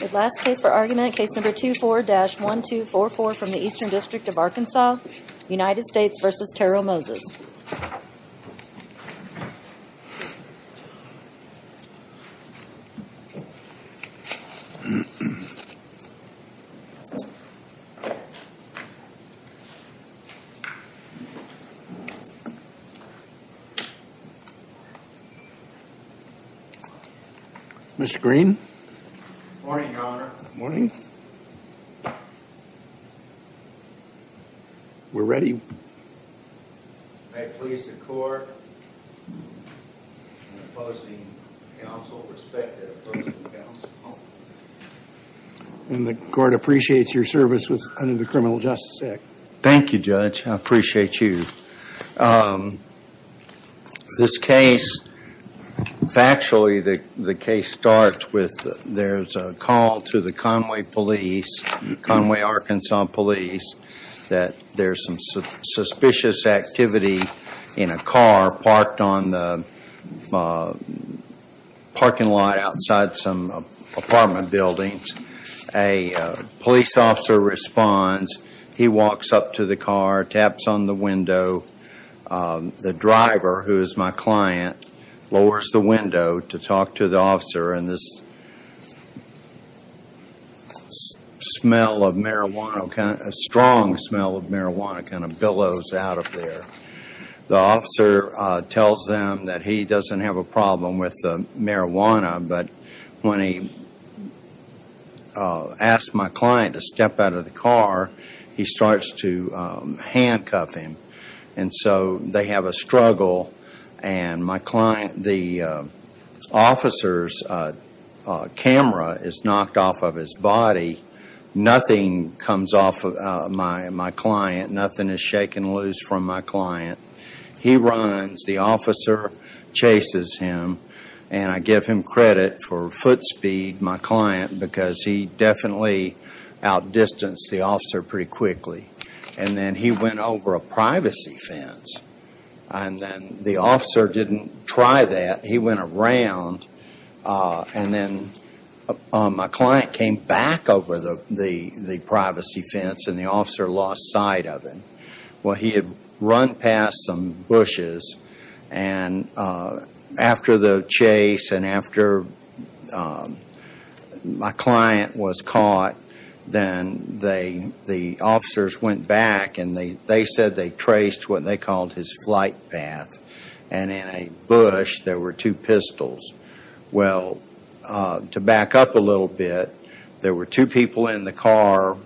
The last case for argument, case number 24-1244 from the Eastern District of Arkansas, United States v. Terrell Moses. Mr. Green. Morning, Your Honor. Morning. We're ready. May it please the court, opposing counsel, respective opposing counsel. And the court appreciates your service under the Criminal Justice Act. Thank you, Judge. I appreciate you. This case, factually the case starts with, there's a call to the Conway police, Conway, Arkansas police, that there's some suspicious activity in a car parked on the parking lot outside some apartment buildings. A police officer responds. He walks up to the car, taps on the window. The driver, who is my client, lowers the window to talk to the officer and this smell of marijuana, a strong smell of marijuana kind of billows out of there. The officer tells them that he doesn't have a problem with the marijuana, but when he asks my client to step out of the car, he starts to handcuff him. And so they have a struggle and my client, the officer's camera is knocked off of his body. Nothing comes off of my client. Nothing is shaken loose from my client. He runs. The officer chases him. And I give him credit for foot speed, my client, because he definitely outdistanced the officer pretty quickly. And then he went over a privacy fence. And then the officer didn't try that. He went around and then my client came back over the privacy fence and the officer lost sight of him. Well, he had run past some bushes and after the chase and after my client was caught, then the officers went back and they said they traced what they called his flight path. And in a bush there were two pistols. Well, to back up a little bit, there were two people in the car,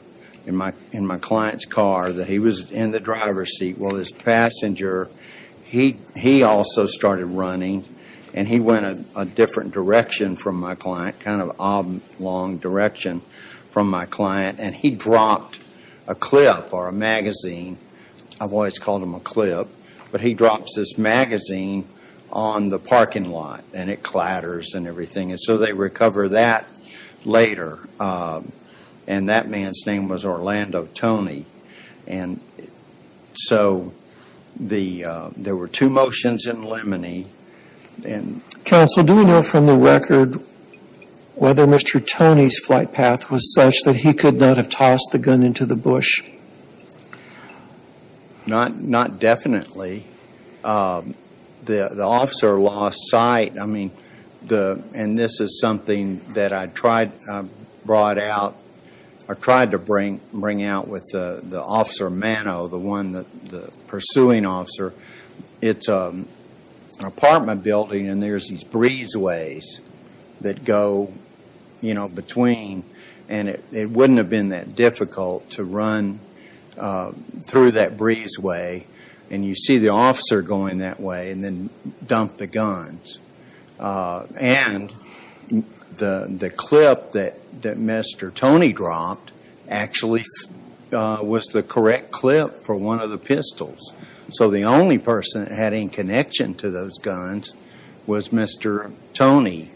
in my client's car, that he was in the driver's seat while this passenger, he also started running and he went a different direction from my client, a kind of oblong direction from my client. And he dropped a clip or a magazine. I've always called him a clip. But he drops this magazine on the parking lot and it clatters and everything. And so they recover that later. And that man's name was Orlando Tony. And so there were two motions in limine. Counsel, do we know from the record whether Mr. Tony's flight path was such that he could not have tossed the gun into the bush? Not definitely. The officer lost sight. I mean, and this is something that I tried to bring out with the officer Mano, the one, the pursuing officer. It's an apartment building and there's these breezeways that go between. And it wouldn't have been that difficult to run through that breezeway. And you see the officer going that way and then dump the guns. And the clip that Mr. Tony dropped actually was the correct clip for one of the pistols. So the only person that had any connection to those guns was Mr. Tony.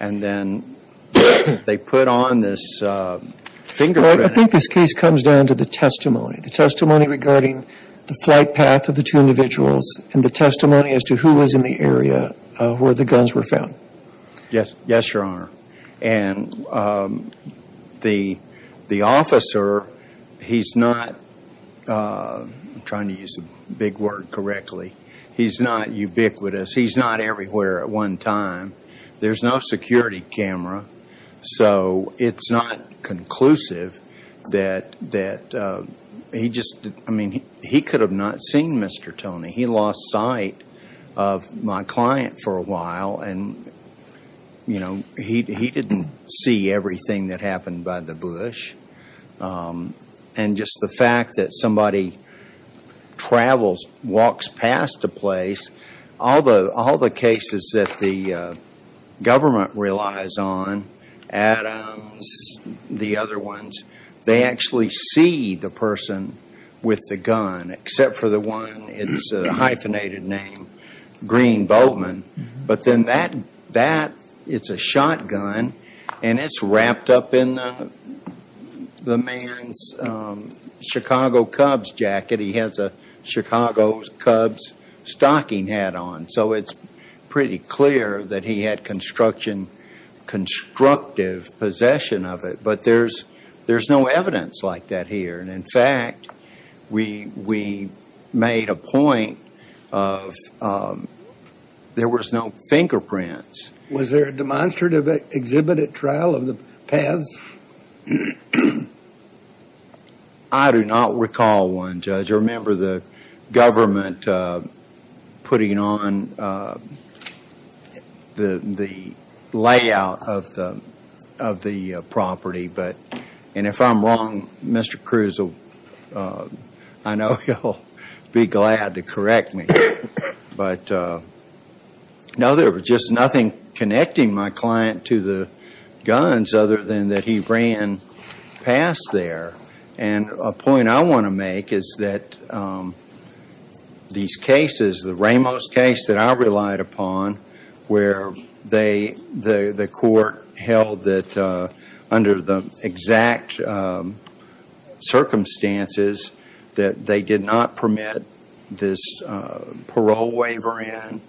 And then they put on this fingerprint. I think this case comes down to the testimony, the testimony regarding the flight path of the two individuals and the testimony as to who was in the area where the guns were found. Yes. Yes, Your Honor. And the officer, he's not trying to use a big word correctly. He's not ubiquitous. He's not everywhere at one time. There's no security camera. So it's not conclusive that he just, I mean, he could have not seen Mr. Tony. He lost sight of my client for a while. And, you know, he didn't see everything that happened by the bush. And just the fact that somebody travels, walks past a place, all the cases that the government relies on, Adams, the other ones, they actually see the person with the gun except for the one, it's a hyphenated name, Green-Boltman. But then that, it's a shotgun and it's wrapped up in the man's Chicago Cubs jacket. He has a Chicago Cubs stocking hat on. So it's pretty clear that he had construction, constructive possession of it. But there's no evidence like that here. And, in fact, we made a point of there was no fingerprints. Was there a demonstrative exhibit at trial of the pads? I do not recall one, Judge. I remember the government putting on the layout of the property. And if I'm wrong, Mr. Cruz, I know you'll be glad to correct me. But, no, there was just nothing connecting my client to the guns other than that he ran past there. And a point I want to make is that these cases, the Ramos case that I relied upon, where the court held that under the exact circumstances that they did not permit this parole waiver in,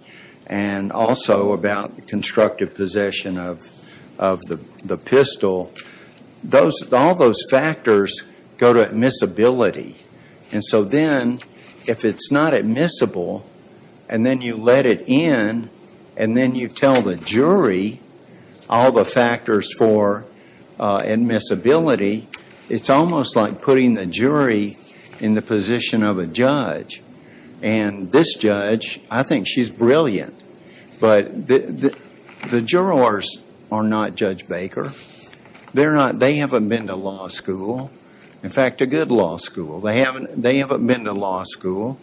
and also about the constructive possession of the pistol, all those factors go to admissibility. And so then, if it's not admissible, and then you let it in, and then you tell the jury all the factors for admissibility, it's almost like putting the jury in the position of a judge. And this judge, I think she's brilliant, but the jurors are not Judge Baker. They haven't been to law school, in fact, a good law school. They haven't been to law school,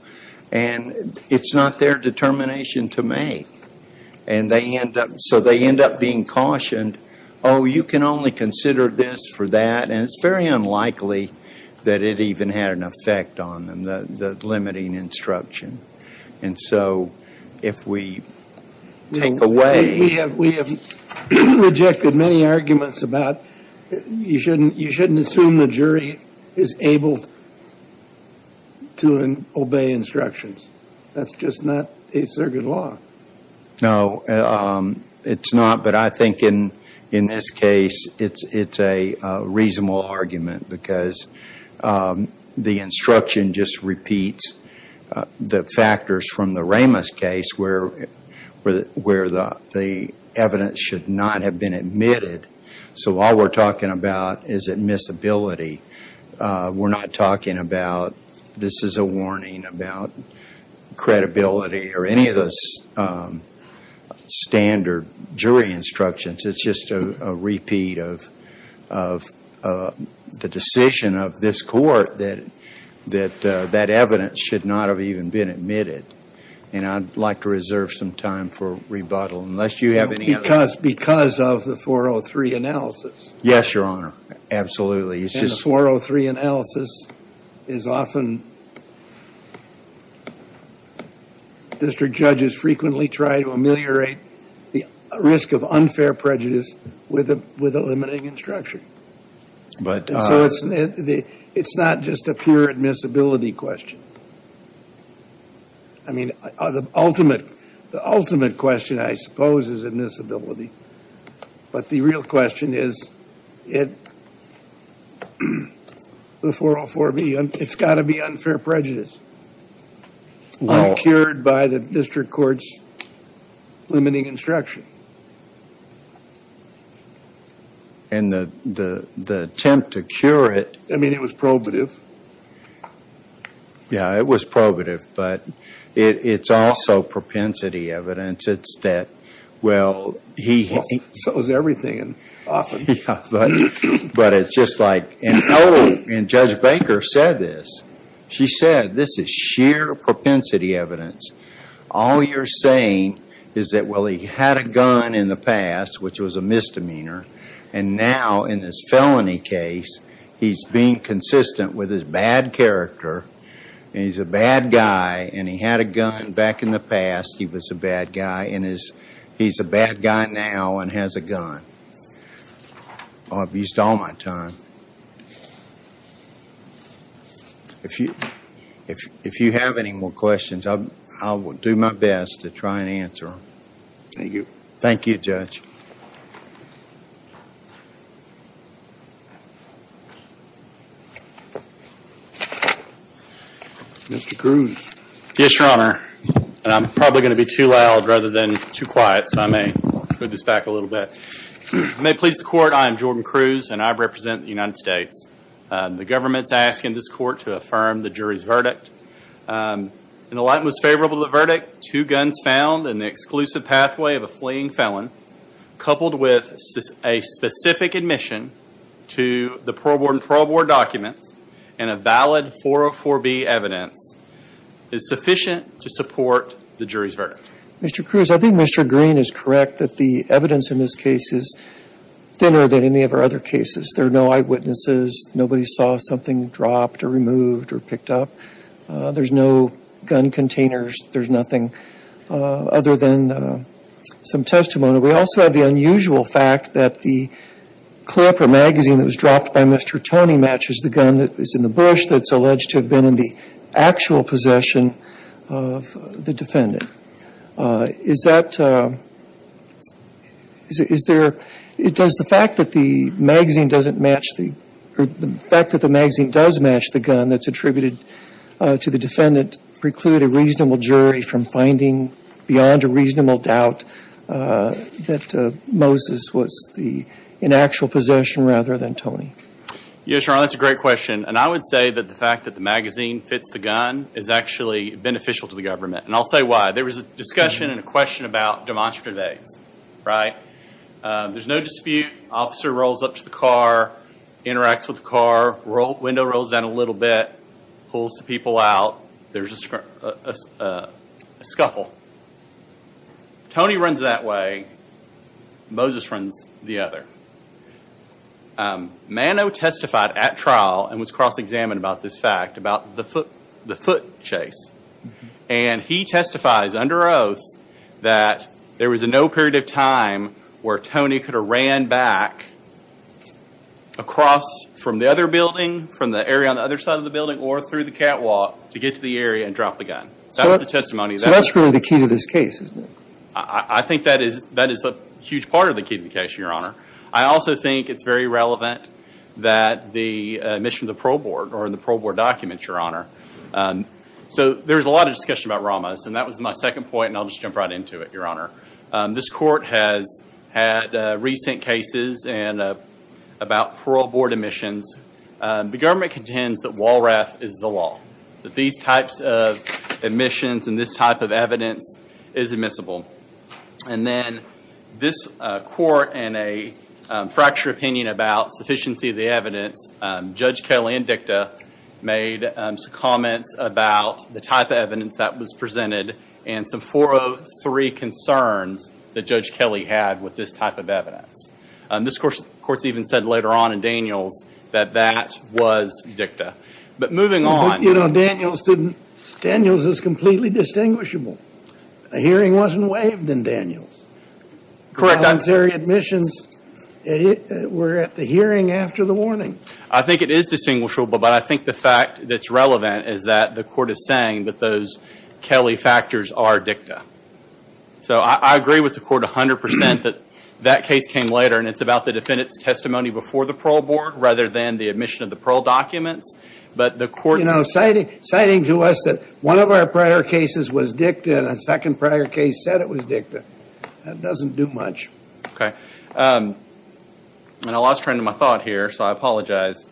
and it's not their determination to make. And so they end up being cautioned, oh, you can only consider this for that, and it's very unlikely that it even had an effect on them, the limiting instruction. And so if we take away... We have rejected many arguments about you shouldn't assume the jury is able to obey instructions. That's just not a circuit law. No, it's not, but I think in this case it's a reasonable argument because the instruction just repeats the factors from the Ramos case where the evidence should not have been admitted. So all we're talking about is admissibility. We're not talking about this is a warning about credibility or any of those standard jury instructions. It's just a repeat of the decision of this Court that that evidence should not have even been admitted. And I'd like to reserve some time for rebuttal unless you have any other... Because of the 403 analysis. Yes, Your Honor, absolutely. The 403 analysis is often... District judges frequently try to ameliorate the risk of unfair prejudice with a limiting instruction. And so it's not just a pure admissibility question. I mean, the ultimate question, I suppose, is admissibility. But the real question is the 404B. It's got to be unfair prejudice when cured by the district court's limiting instruction. And the attempt to cure it... I mean, it was probative. Yeah, it was probative, but it's also propensity evidence. Well, so is everything often. But it's just like... And Judge Baker said this. She said this is sheer propensity evidence. All you're saying is that, well, he had a gun in the past, which was a misdemeanor, and now in this felony case, he's being consistent with his bad character, and he's a bad guy, and he had a gun back in the past, he was a bad guy, and he's a bad guy now and has a gun. I'll abuse all my time. If you have any more questions, I will do my best to try and answer them. Thank you. Thank you, Judge. Mr. Cruz. Yes, Your Honor. And I'm probably going to be too loud rather than too quiet, so I may put this back a little bit. I may please the court. I am Jordan Cruz, and I represent the United States. The government's asking this court to affirm the jury's verdict. In the light most favorable to the verdict, two guns found in the exclusive pathway of a fleeing felon, coupled with a specific admission to the parole board and parole board documents, and a valid 404B evidence is sufficient to support the jury's verdict. Mr. Cruz, I think Mr. Green is correct that the evidence in this case is thinner than any of our other cases. There are no eyewitnesses. Nobody saw something dropped or removed or picked up. There's no gun containers. There's nothing other than some testimony. We also have the unusual fact that the clip or magazine that was dropped by Mr. Tony matches the gun that is in the bush that's alleged to have been in the actual possession of the defendant. Is that – is there – does the fact that the magazine doesn't match the – or the fact that the magazine does match the gun that's attributed to the defendant preclude a reasonable jury from finding beyond a reasonable doubt that Moses was the – in actual possession rather than Tony? Yes, Your Honor, that's a great question. And I would say that the fact that the magazine fits the gun is actually beneficial to the government. And I'll say why. There was a discussion and a question about demonstrative acts, right? There's no dispute. Officer rolls up to the car, interacts with the car, window rolls down a little bit, pulls the people out. There's a scuffle. Tony runs that way. Moses runs the other. Mano testified at trial and was cross-examined about this fact, about the foot chase. And he testifies under oath that there was no period of time where Tony could have ran back across from the other building, from the area on the other side of the building or through the catwalk to get to the area and drop the gun. So that was the testimony. So that's really the key to this case, isn't it? I think that is a huge part of the key to the case, Your Honor. I also think it's very relevant that the admission of the parole board or in the parole board documents, Your Honor. So there was a lot of discussion about Ramos, and that was my second point, and I'll just jump right into it, Your Honor. This court has had recent cases about parole board admissions. The government contends that WALRAF is the law, that these types of admissions and this type of evidence is admissible. And then this court, in a fracture opinion about sufficiency of the evidence, Judge Kelly and DICTA made some comments about the type of evidence that was presented and some 403 concerns that Judge Kelly had with this type of evidence. This court's even said later on in Daniels that that was DICTA. But moving on. You know, Daniels is completely distinguishable. A hearing wasn't waived in Daniels. The voluntary admissions were at the hearing after the warning. I think it is distinguishable, but I think the fact that's relevant is that the court is saying that those Kelly factors are DICTA. So I agree with the court 100% that that case came later, and it's about the defendant's testimony before the parole board rather than the admission of the parole documents. You know, citing to us that one of our prior cases was DICTA and a second prior case said it was DICTA, that doesn't do much. Okay. And I lost track of my thought here, so I apologize.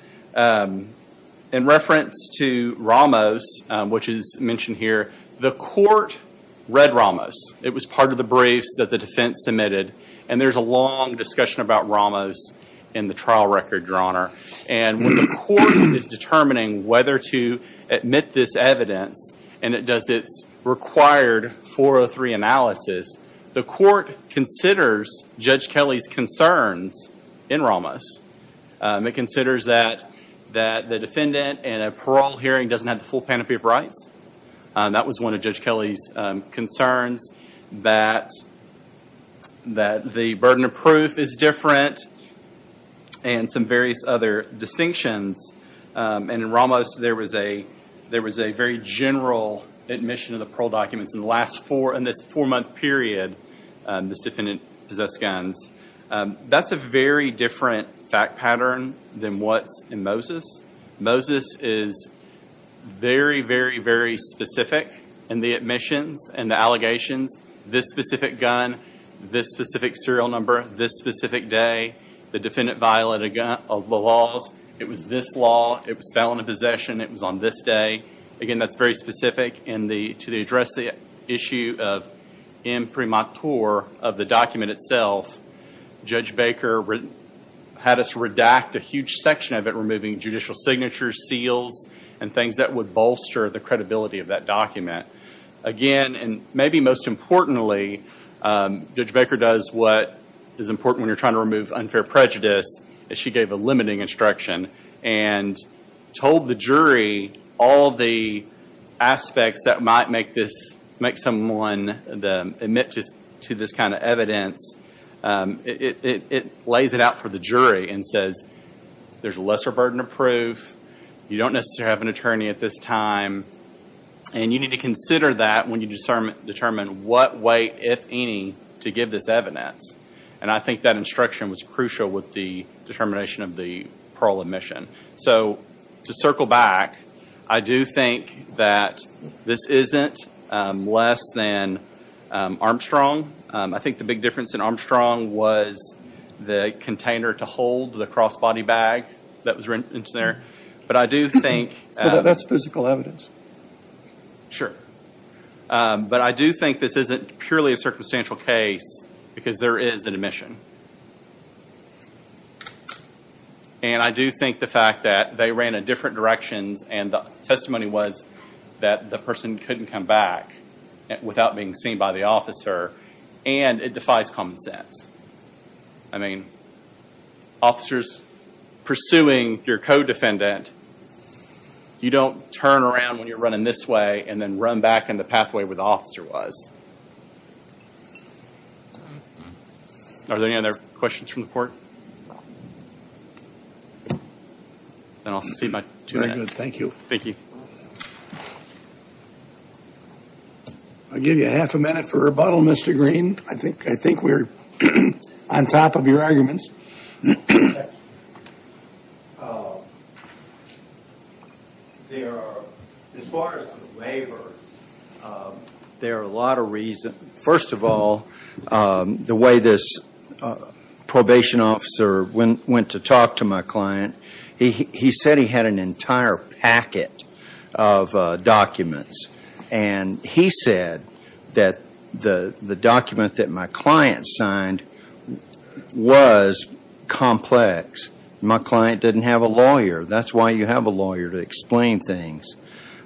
In reference to Ramos, which is mentioned here, the court read Ramos. It was part of the briefs that the defense submitted, and there's a long discussion about Ramos in the trial record, Your Honor. And when the court is determining whether to admit this evidence and it does its required 403 analysis, the court considers Judge Kelly's concerns in Ramos. It considers that the defendant in a parole hearing doesn't have the full panoply of rights. That was one of Judge Kelly's concerns, that the burden of proof is different and some various other distinctions. And in Ramos, there was a very general admission of the parole documents in this four-month period this defendant possessed guns. That's a very different fact pattern than what's in Moses. Moses is very, very, very specific in the admissions and the allegations. This specific gun, this specific serial number, this specific day, the defendant violated the laws. It was this law, it was felon of possession, it was on this day. Again, that's very specific. And to address the issue of imprimatur of the document itself, Judge Baker had us redact a huge section of it, removing judicial signatures, seals, and things that would bolster the credibility of that document. Again, and maybe most importantly, Judge Baker does what is important when you're trying to remove unfair prejudice, is she gave a limiting instruction and told the jury all the aspects that might make someone admit to this kind of evidence. It lays it out for the jury and says there's lesser burden of proof, you don't necessarily have an attorney at this time, and you need to consider that when you determine what way, if any, to give this evidence. And I think that instruction was crucial with the determination of the parole admission. So to circle back, I do think that this isn't less than Armstrong. I think the big difference in Armstrong was the container to hold the cross-body bag that was in there. But I do think- That's physical evidence. Sure. But I do think this isn't purely a circumstantial case because there is an admission. And I do think the fact that they ran in different directions and the testimony was that the person couldn't come back without being seen by the officer, and it defies common sense. I mean, officers pursuing your co-defendant, you don't turn around when you're running this way and then run back in the pathway where the officer was. Are there any other questions from the court? And I'll secede my two minutes. Very good. Thank you. Thank you. I'll give you half a minute for rebuttal, Mr. Green. I think we're on top of your arguments. Thank you. As far as the waiver, there are a lot of reasons. First of all, the way this probation officer went to talk to my client, he said he had an entire packet of documents. And he said that the document that my client signed was complex. My client didn't have a lawyer. That's why you have a lawyer to explain things.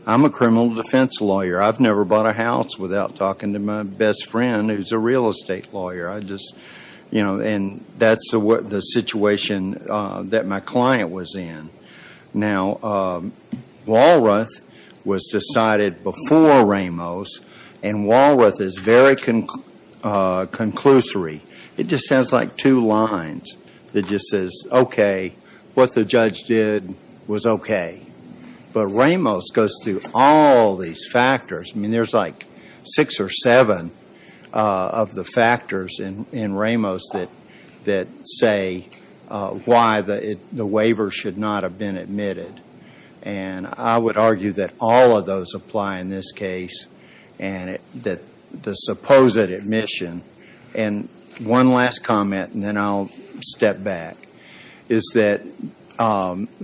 I'm a criminal defense lawyer. I've never bought a house without talking to my best friend who's a real estate lawyer. I just, you know, and that's the situation that my client was in. Now, Walroth was decided before Ramos, and Walroth is very conclusory. It just sounds like two lines that just says, okay, what the judge did was okay. But Ramos goes through all these factors. I mean, there's like six or seven of the factors in Ramos that say why the waiver should not have been admitted. And I would argue that all of those apply in this case, and the supposed admission. And one last comment, and then I'll step back, is that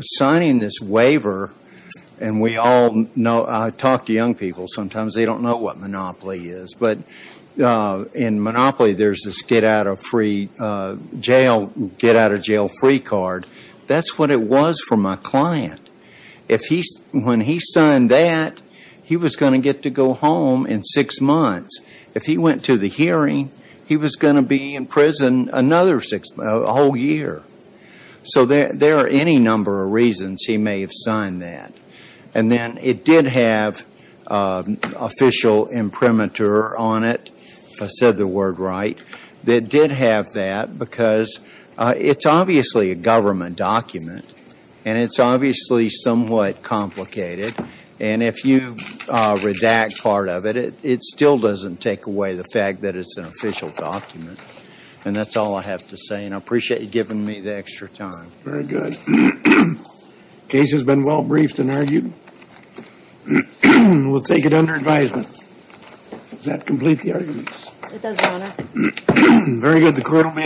signing this waiver, and we all know, I talk to young people sometimes, they don't know what monopoly is. But in monopoly, there's this get out of jail free card. That's what it was for my client. When he signed that, he was going to get to go home in six months. If he went to the hearing, he was going to be in prison another whole year. So there are any number of reasons he may have signed that. And then it did have official imprimatur on it, if I said the word right. It did have that because it's obviously a government document, and it's obviously somewhat complicated. And if you redact part of it, it still doesn't take away the fact that it's an official document. And that's all I have to say, and I appreciate you giving me the extra time. Very good. The case has been well briefed and argued. We'll take it under advisement. Does that complete the arguments? It does, Your Honor. Very good. The court will be adjourned.